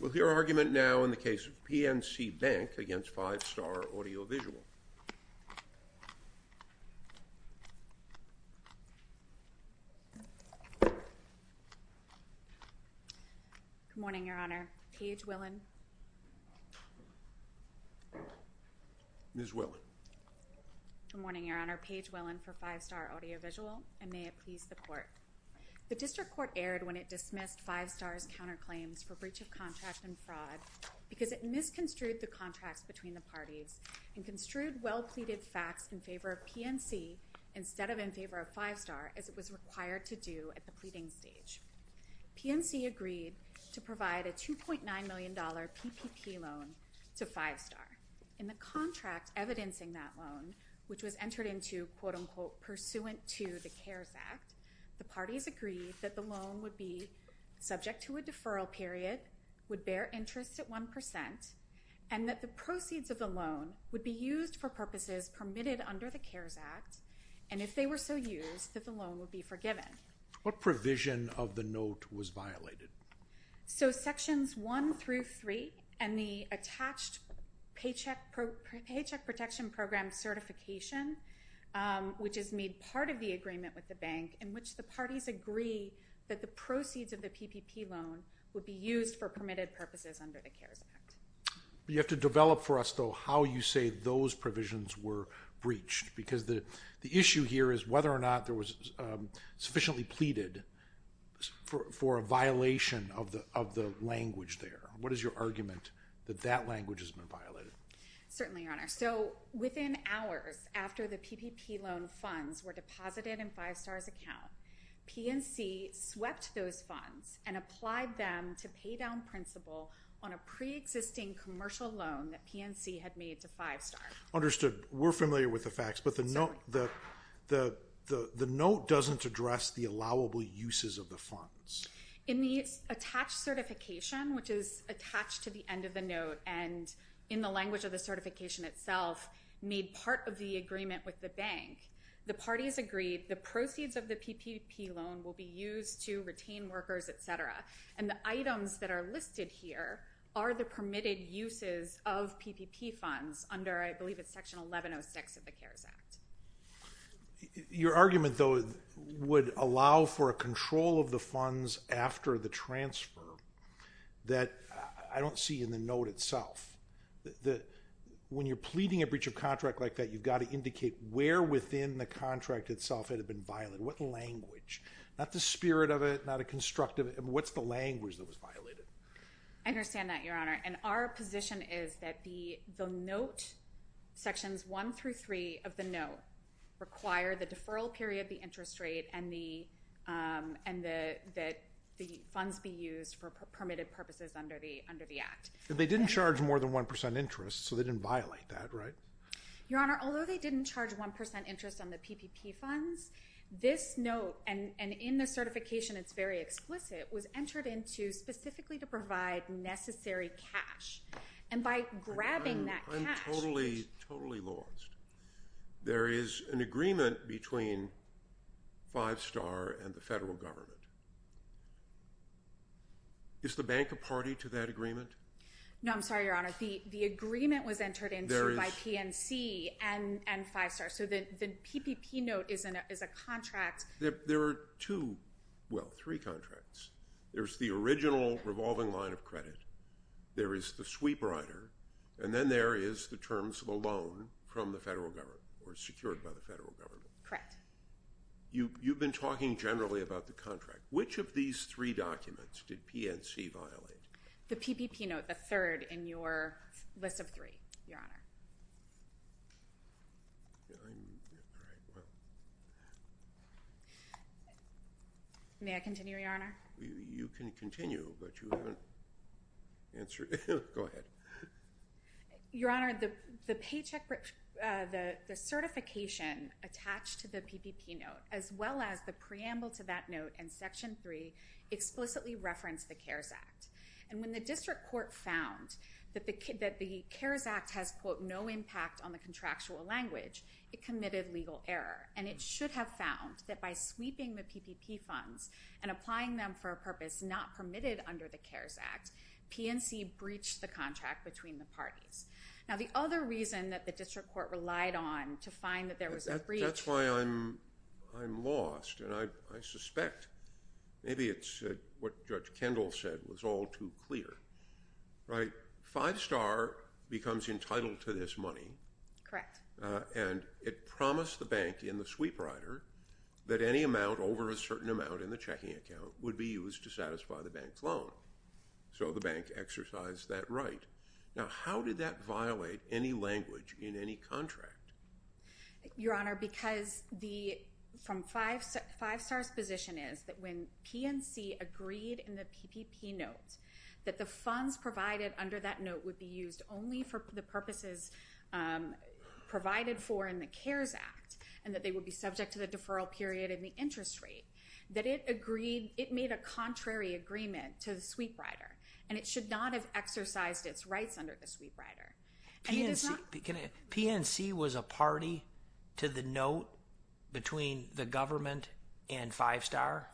With your argument now in the case of PNC Bank against Five-Star Audiovisual. Good morning, Your Honor. Paige Willen. Ms. Willen. Good morning, Your Honor. Paige Willen for Five-Star Audiovisual, and may it please the Court. The District Court erred when it dismissed Five-Star's counterclaims for breach of contract and fraud because it misconstrued the contracts between the parties and construed well-pleaded facts in favor of PNC instead of in favor of Five-Star as it was required to do at the pleading stage. PNC agreed to provide a $2.9 million PPP loan to Five-Star. In the contract evidencing that loan, which was entered into, quote-unquote, pursuant to the CARES Act, the parties agreed that the loan would be subject to a deferral period, would bear interest at 1%, and that the proceeds of the loan would be used for purposes permitted under the CARES Act, and if they were so used, that the loan would be forgiven. What provision of the note was violated? So Sections 1 through 3 and the attached Paycheck Protection Program certification, which is made part of the agreement with the bank in which the parties agree that the proceeds of the PPP loan would be used for permitted purposes under the CARES Act. You have to develop for us, though, how you say those provisions were breached because the issue here is whether or not there was sufficiently pleaded for a violation of the language there. What is your argument that that language has been violated? Certainly, Your Honor. So within hours after the PPP loan funds were deposited in Five-Star's account, PNC swept those funds and applied them to pay down principal on a pre-existing commercial loan that PNC had made to Five-Star. Understood. We're familiar with the facts, but the note doesn't address the allowable uses of the funds. In the attached certification, which is attached to the end of the note and in the language of the certification itself made part of the agreement with the bank, the parties agreed the proceeds of the PPP loan will be used to retain workers, et cetera, and the items that are listed here are the permitted uses of PPP funds under, I believe it's Section 1106 of the CARES Act. Your argument, though, would allow for a control of the funds after the transfer that I don't see in the note itself. When you're pleading a breach of contract like that, you've got to indicate where within the contract itself it had been violated. What language? Not the spirit of it, not a constructive. What's the language that was violated? I understand that, Your Honor. And our position is that the note, Sections 1 through 3 of the note, require the deferral period, the interest rate, and that the funds be used for permitted purposes under the Act. They didn't charge more than 1% interest, so they didn't violate that, right? Your Honor, although they didn't charge 1% interest on the PPP funds, this note, and in the certification it's very explicit, was entered into specifically to provide necessary cash. And by grabbing that cash. I'm totally lost. There is an agreement between Five Star and the federal government. Is the bank a party to that agreement? No, I'm sorry, Your Honor. The agreement was entered into by PNC and Five Star. So the PPP note is a contract. There are two, well, three contracts. There's the original revolving line of credit. There is the sweep rider. And then there is the terms of a loan from the federal government or secured by the federal government. Correct. You've been talking generally about the contract. Which of these three documents did PNC violate? The PPP note, the third in your list of three, Your Honor. May I continue, Your Honor? You can continue, but you haven't answered. Go ahead. Your Honor, the certification attached to the PPP note, as well as the preamble to that note and Section 3, explicitly referenced the CARES Act. And when the district court found that the CARES Act has, quote, no impact on the contractual language, it committed legal error. And it should have found that by sweeping the PPP funds and applying them for a purpose not permitted under the CARES Act, PNC breached the contract between the parties. Now, the other reason that the district court relied on to find that there was a breach. That's why I'm lost. And I suspect maybe it's what Judge Kendall said was all too clear. Right? Five star becomes entitled to this money. Correct. And it promised the bank in the sweep rider that any amount over a certain amount in the checking account would be used to satisfy the bank's loan. So the bank exercised that right. Now, how did that violate any language in any contract? Your Honor, because from five stars position is that when PNC agreed in the PPP notes that the funds provided under that note would be used only for the purposes provided for in the CARES Act and that they would be subject to the deferral period and the interest rate, that it agreed, it made a contrary agreement to the sweep rider. And it should not have exercised its rights under the sweep rider. PNC was a party to the note between the government and five star?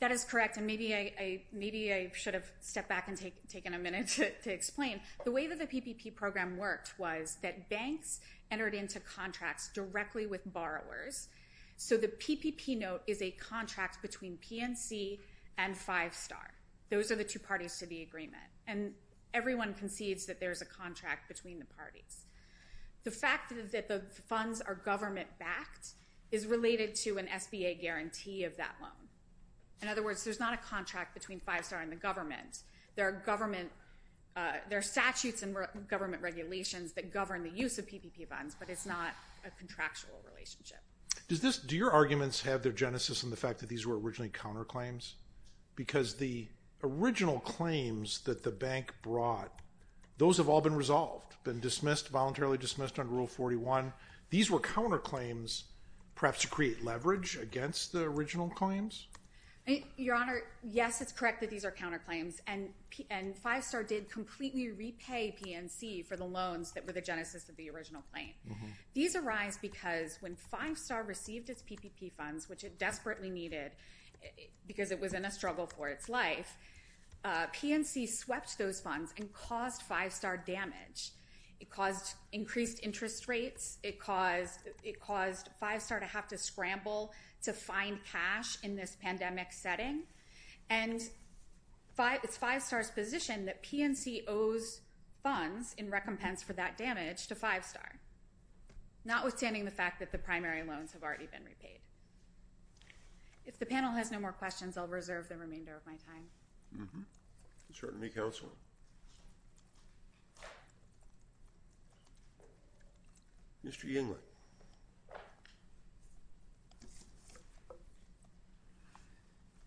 That is correct. And maybe I should have stepped back and taken a minute to explain. The way that the PPP program worked was that banks entered into contracts directly with borrowers. So the PPP note is a contract between PNC and five star. Those are the two parties to the agreement. And everyone concedes that there's a contract between the parties. The fact that the funds are government-backed is related to an SBA guarantee of that loan. In other words, there's not a contract between five star and the government. There are statutes and government regulations that govern the use of PPP funds, but it's not a contractual relationship. Do your arguments have their genesis in the fact that these were originally counterclaims? Because the original claims that the bank brought, those have all been resolved, been dismissed, voluntarily dismissed under Rule 41. These were counterclaims perhaps to create leverage against the original claims? Your Honor, yes, it's correct that these are counterclaims. And five star did completely repay PNC for the loans that were the genesis of the original claim. These arise because when five star received its PPP funds, which it did because it was in a struggle for its life, PNC swept those funds and caused five star damage. It caused increased interest rates. It caused five star to have to scramble to find cash in this pandemic setting. And it's five star's position that PNC owes funds in recompense for that damage to five star, notwithstanding the fact that the primary loans have already been repaid. If the panel has no more questions, I'll reserve the remainder of my time. Certainly, counsel. Mr. Yingling.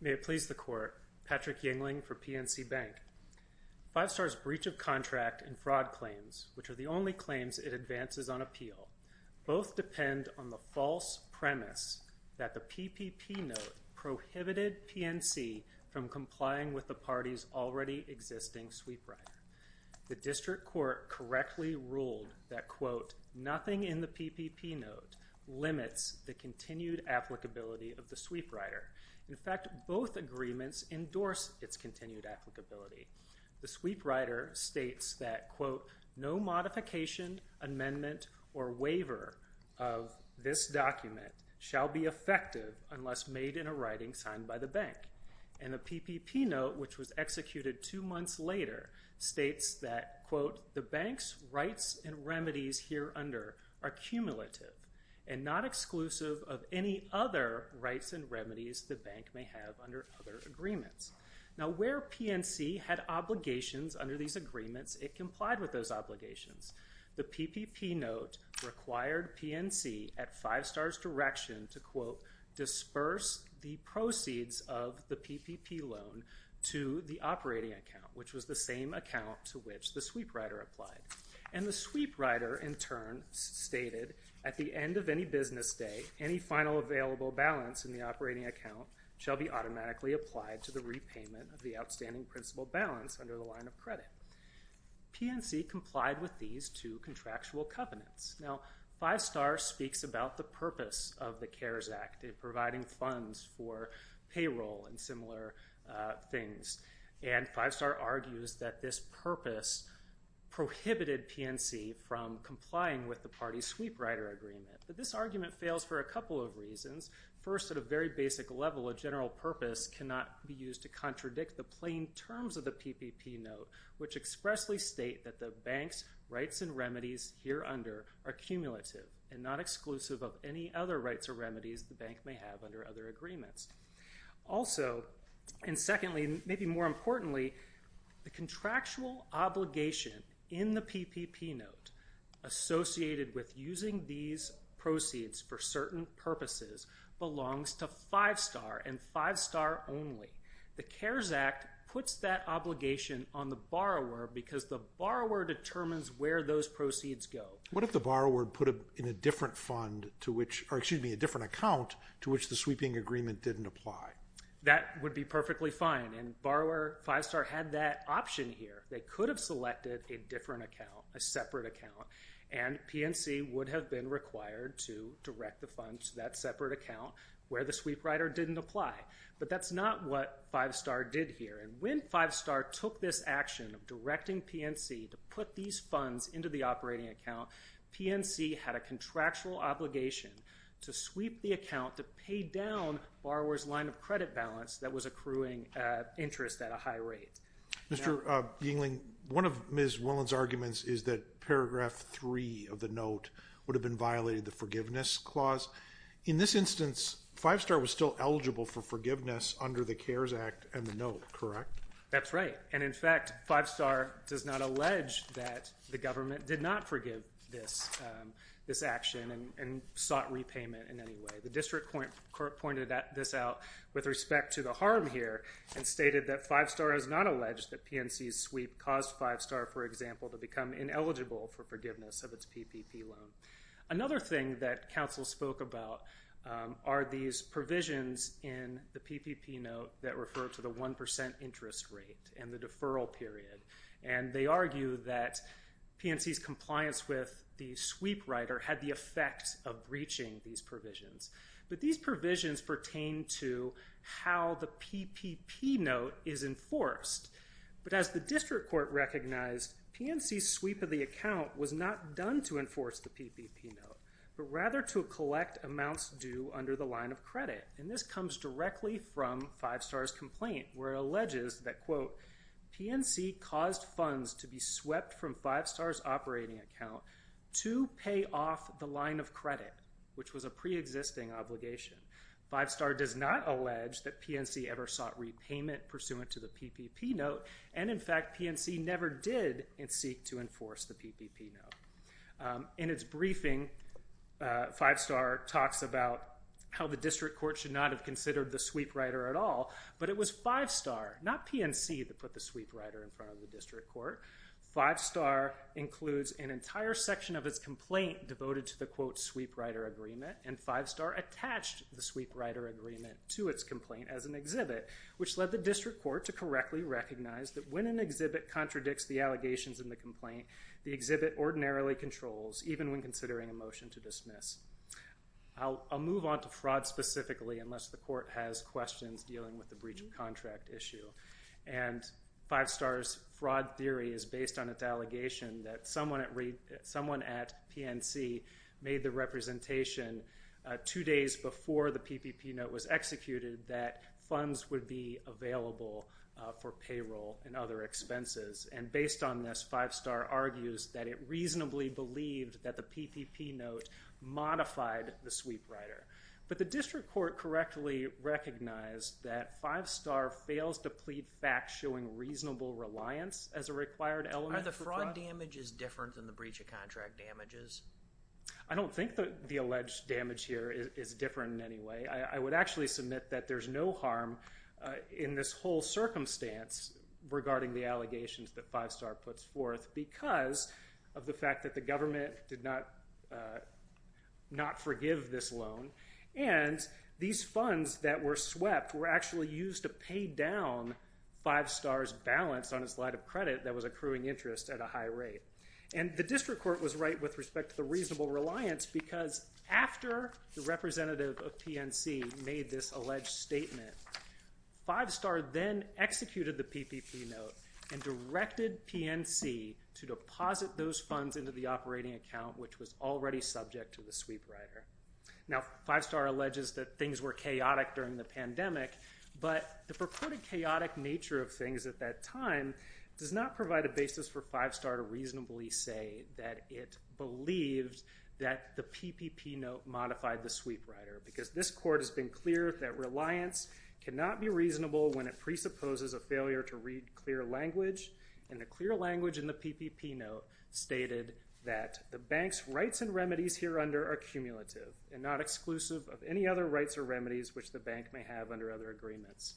May it please the court. Patrick Yingling for PNC Bank. Five star's breach of contract and fraud claims, which are the only claims it advances on appeal, both depend on the false premise that the PPP note prohibited PNC from complying with the party's already existing sweep rider. The district court correctly ruled that, quote, nothing in the PPP note limits the continued applicability of the sweep rider. In fact, both agreements endorse its continued applicability. The sweep rider states that, quote, no modification, amendment, or waiver of this document shall be effective unless made in a writing signed by the bank. And the PPP note, which was executed two months later, states that, quote, the bank's rights and remedies here under are cumulative and not exclusive of any other rights and remedies the bank may have under other agreements. Now, where PNC had obligations under these agreements, it complied with those obligations. The PPP note required PNC at Five Star's direction to, quote, disperse the proceeds of the PPP loan to the operating account, which was the same account to which the sweep rider applied. And the sweep rider, in turn, stated, at the end of any business day, any final available balance in the operating account shall be automatically applied to the repayment of the outstanding principal balance under the line of credit. PNC complied with these two contractual covenants. Now, Five Star speaks about the purpose of the CARES Act in providing funds for payroll and similar things. And Five Star argues that this purpose prohibited PNC from complying with the party's sweep rider agreement. But this argument fails for a couple of reasons. First, at a very basic level, a general purpose cannot be used to contradict the plain terms of the PPP note, which expressly state that the bank's rights and remedies here under are cumulative and not exclusive of any other rights or remedies the bank may have under other agreements. Also, and secondly, maybe more importantly, the contractual obligation in the PPP note associated with using these proceeds for certain purposes belongs to Five Star and Five Star only. The CARES Act puts that obligation on the borrower because the borrower determines where those proceeds go. What if the borrower put in a different fund to which, or excuse me, a different account to which the sweeping agreement didn't apply? That would be perfectly fine, and borrower Five Star had that option here. They could have selected a different account, a separate account, and PNC would have been required to direct the funds to that separate account where the sweep rider didn't apply. But that's not what Five Star did here, and when Five Star took this action of directing PNC to put these funds into the operating account, PNC had a contractual obligation to sweep the account to pay down borrower's line of credit balance that was accruing interest at a high rate. Mr. Yingling, one of Ms. Willen's arguments is that paragraph three of the note would have been violating the forgiveness clause. In this instance, Five Star was still eligible for forgiveness under the CARES Act and the note, correct? That's right, and in fact Five Star does not allege that the government did not forgive this action and sought repayment in any way. The district court pointed this out with respect to the harm here and stated that Five Star has not alleged that PNC's sweep caused Five Star, for example, to become ineligible for forgiveness of its PPP loan. Another thing that counsel spoke about are these provisions in the PPP note that refer to the 1% interest rate and the deferral period. And they argue that PNC's compliance with the sweep rider had the effect of breaching these provisions. But these provisions pertain to how the PPP note is enforced. But as the district court recognized, PNC's sweep of the account was not done to enforce the PPP note, but rather to collect amounts due under the line of credit. And this comes directly from Five Star's complaint where it alleges that, quote, PNC caused funds to be swept from Five Star's operating account to pay off the line of credit, which was a preexisting obligation. Five Star does not allege that PNC ever sought repayment pursuant to the PPP note, and, in fact, PNC never did seek to enforce the PPP note. In its briefing, Five Star talks about how the district court should not have considered the sweep rider at all, but it was Five Star, not PNC, that put the sweep rider in front of the district court. Five Star includes an entire section of its complaint devoted to the, quote, sweep rider agreement, and Five Star attached the sweep rider agreement to its district court to correctly recognize that when an exhibit contradicts the allegations in the complaint, the exhibit ordinarily controls, even when considering a motion to dismiss. I'll move on to fraud specifically, unless the court has questions dealing with the breach of contract issue. And Five Star's fraud theory is based on its allegation that someone at PNC made the representation two days before the PPP note was executed that funds would be available for payroll and other expenses. And based on this, Five Star argues that it reasonably believed that the PPP note modified the sweep rider. But the district court correctly recognized that Five Star fails to plead facts showing reasonable reliance as a required element for fraud. Are the fraud damages different than the breach of contract damages? I don't think the alleged damage here is different in any way. I would actually submit that there's no harm in this whole circumstance regarding the allegations that Five Star puts forth because of the fact that the government did not forgive this loan. And these funds that were swept were actually used to pay down Five Star's balance on its line of credit that was accruing interest at a high rate. And the district court was right with respect to the reasonable reliance because after the representative of PNC made this alleged statement, Five Star then executed the PPP note and directed PNC to deposit those funds into the operating account, which was already subject to the sweep rider. Now, Five Star alleges that things were chaotic during the pandemic, but the purported chaotic nature of things at that time does not provide a basis for Five Star to reasonably say that it believes that the PPP note modified the sweep rider because this court has been clear that reliance cannot be reasonable when it presupposes a failure to read clear language. And the clear language in the PPP note stated that the bank's rights and remedies here under are cumulative and not exclusive of any other rights or remedies which the bank may have under other agreements.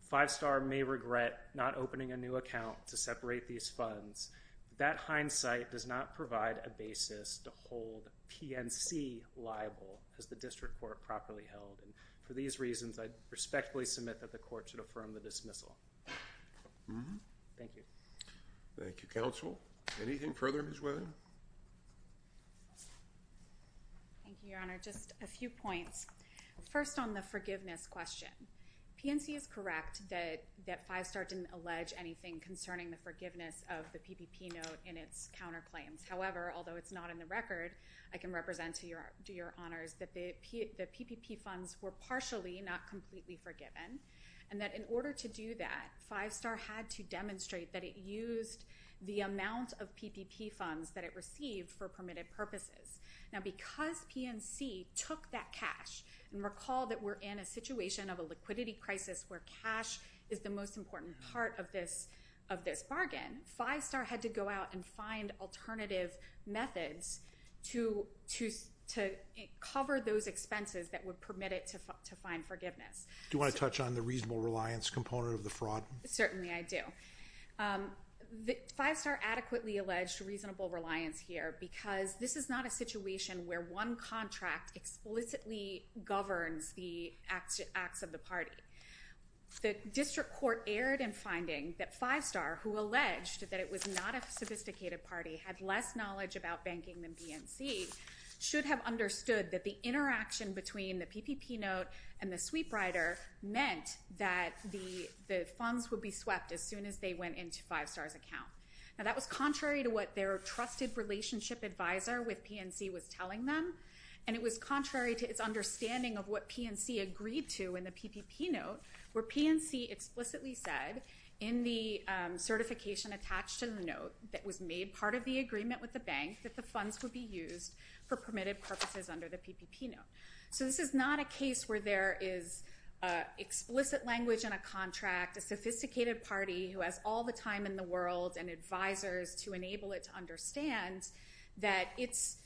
Five Star may regret not opening a new account to separate these funds, but that hindsight does not provide a basis to hold PNC liable, as the district court properly held. And for these reasons, I respectfully submit that the court should affirm the dismissal. Thank you. Thank you, counsel. Anything further, Ms. Weatherton? Thank you, Your Honor. Just a few points. First, on the forgiveness question, PNC is correct that Five Star didn't allege anything concerning the forgiveness of the PPP note in its counterclaims. However, although it's not in the record, I can represent to your honors that the PPP funds were partially, not completely forgiven, and that in order to do that, Five Star had to demonstrate that it used the amount of PPP funds that it received for permitted purposes. Now, because PNC took that cash, and recall that we're in a situation of a liquidity crisis where cash is the most important part of this bargain, Five Star had to go out and find alternative methods to cover those expenses that would permit it to find forgiveness. Do you want to touch on the reasonable reliance component of the fraud? Certainly, I do. Five Star adequately alleged reasonable reliance here, because this is not a situation where one contract explicitly governs the acts of the party. The district court erred in finding that Five Star, who alleged that it was not a sophisticated party, had less knowledge about banking than PNC, should have understood that the interaction between the PPP note and the sweep rider meant that the funds would be swept as soon as they went into Five Star's account. Now, that was contrary to what their trusted relationship advisor with PNC was telling them, and it was contrary to its understanding of what PNC agreed to in the PPP note, where PNC explicitly said, in the certification attached to the note that was made part of the agreement with the bank, that the funds would be used for permitted purposes under the PPP note. So this is not a case where there is explicit language in a contract, a sophisticated party who has all the time in the world and advisors to enable it to understand that its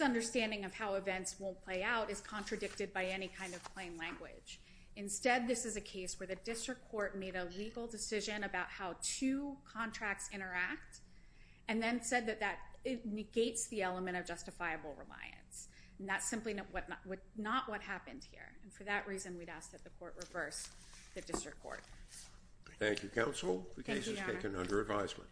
understanding of how events won't play out is contradicted by any kind of plain language. Instead, this is a case where the district court made a legal decision about how two contracts interact, and then said that that negates the element of justifiable reliance. And that's simply not what happened here. And for that reason, we'd ask that the court reverse the district court. Thank you, counsel. The case is taken under advisement.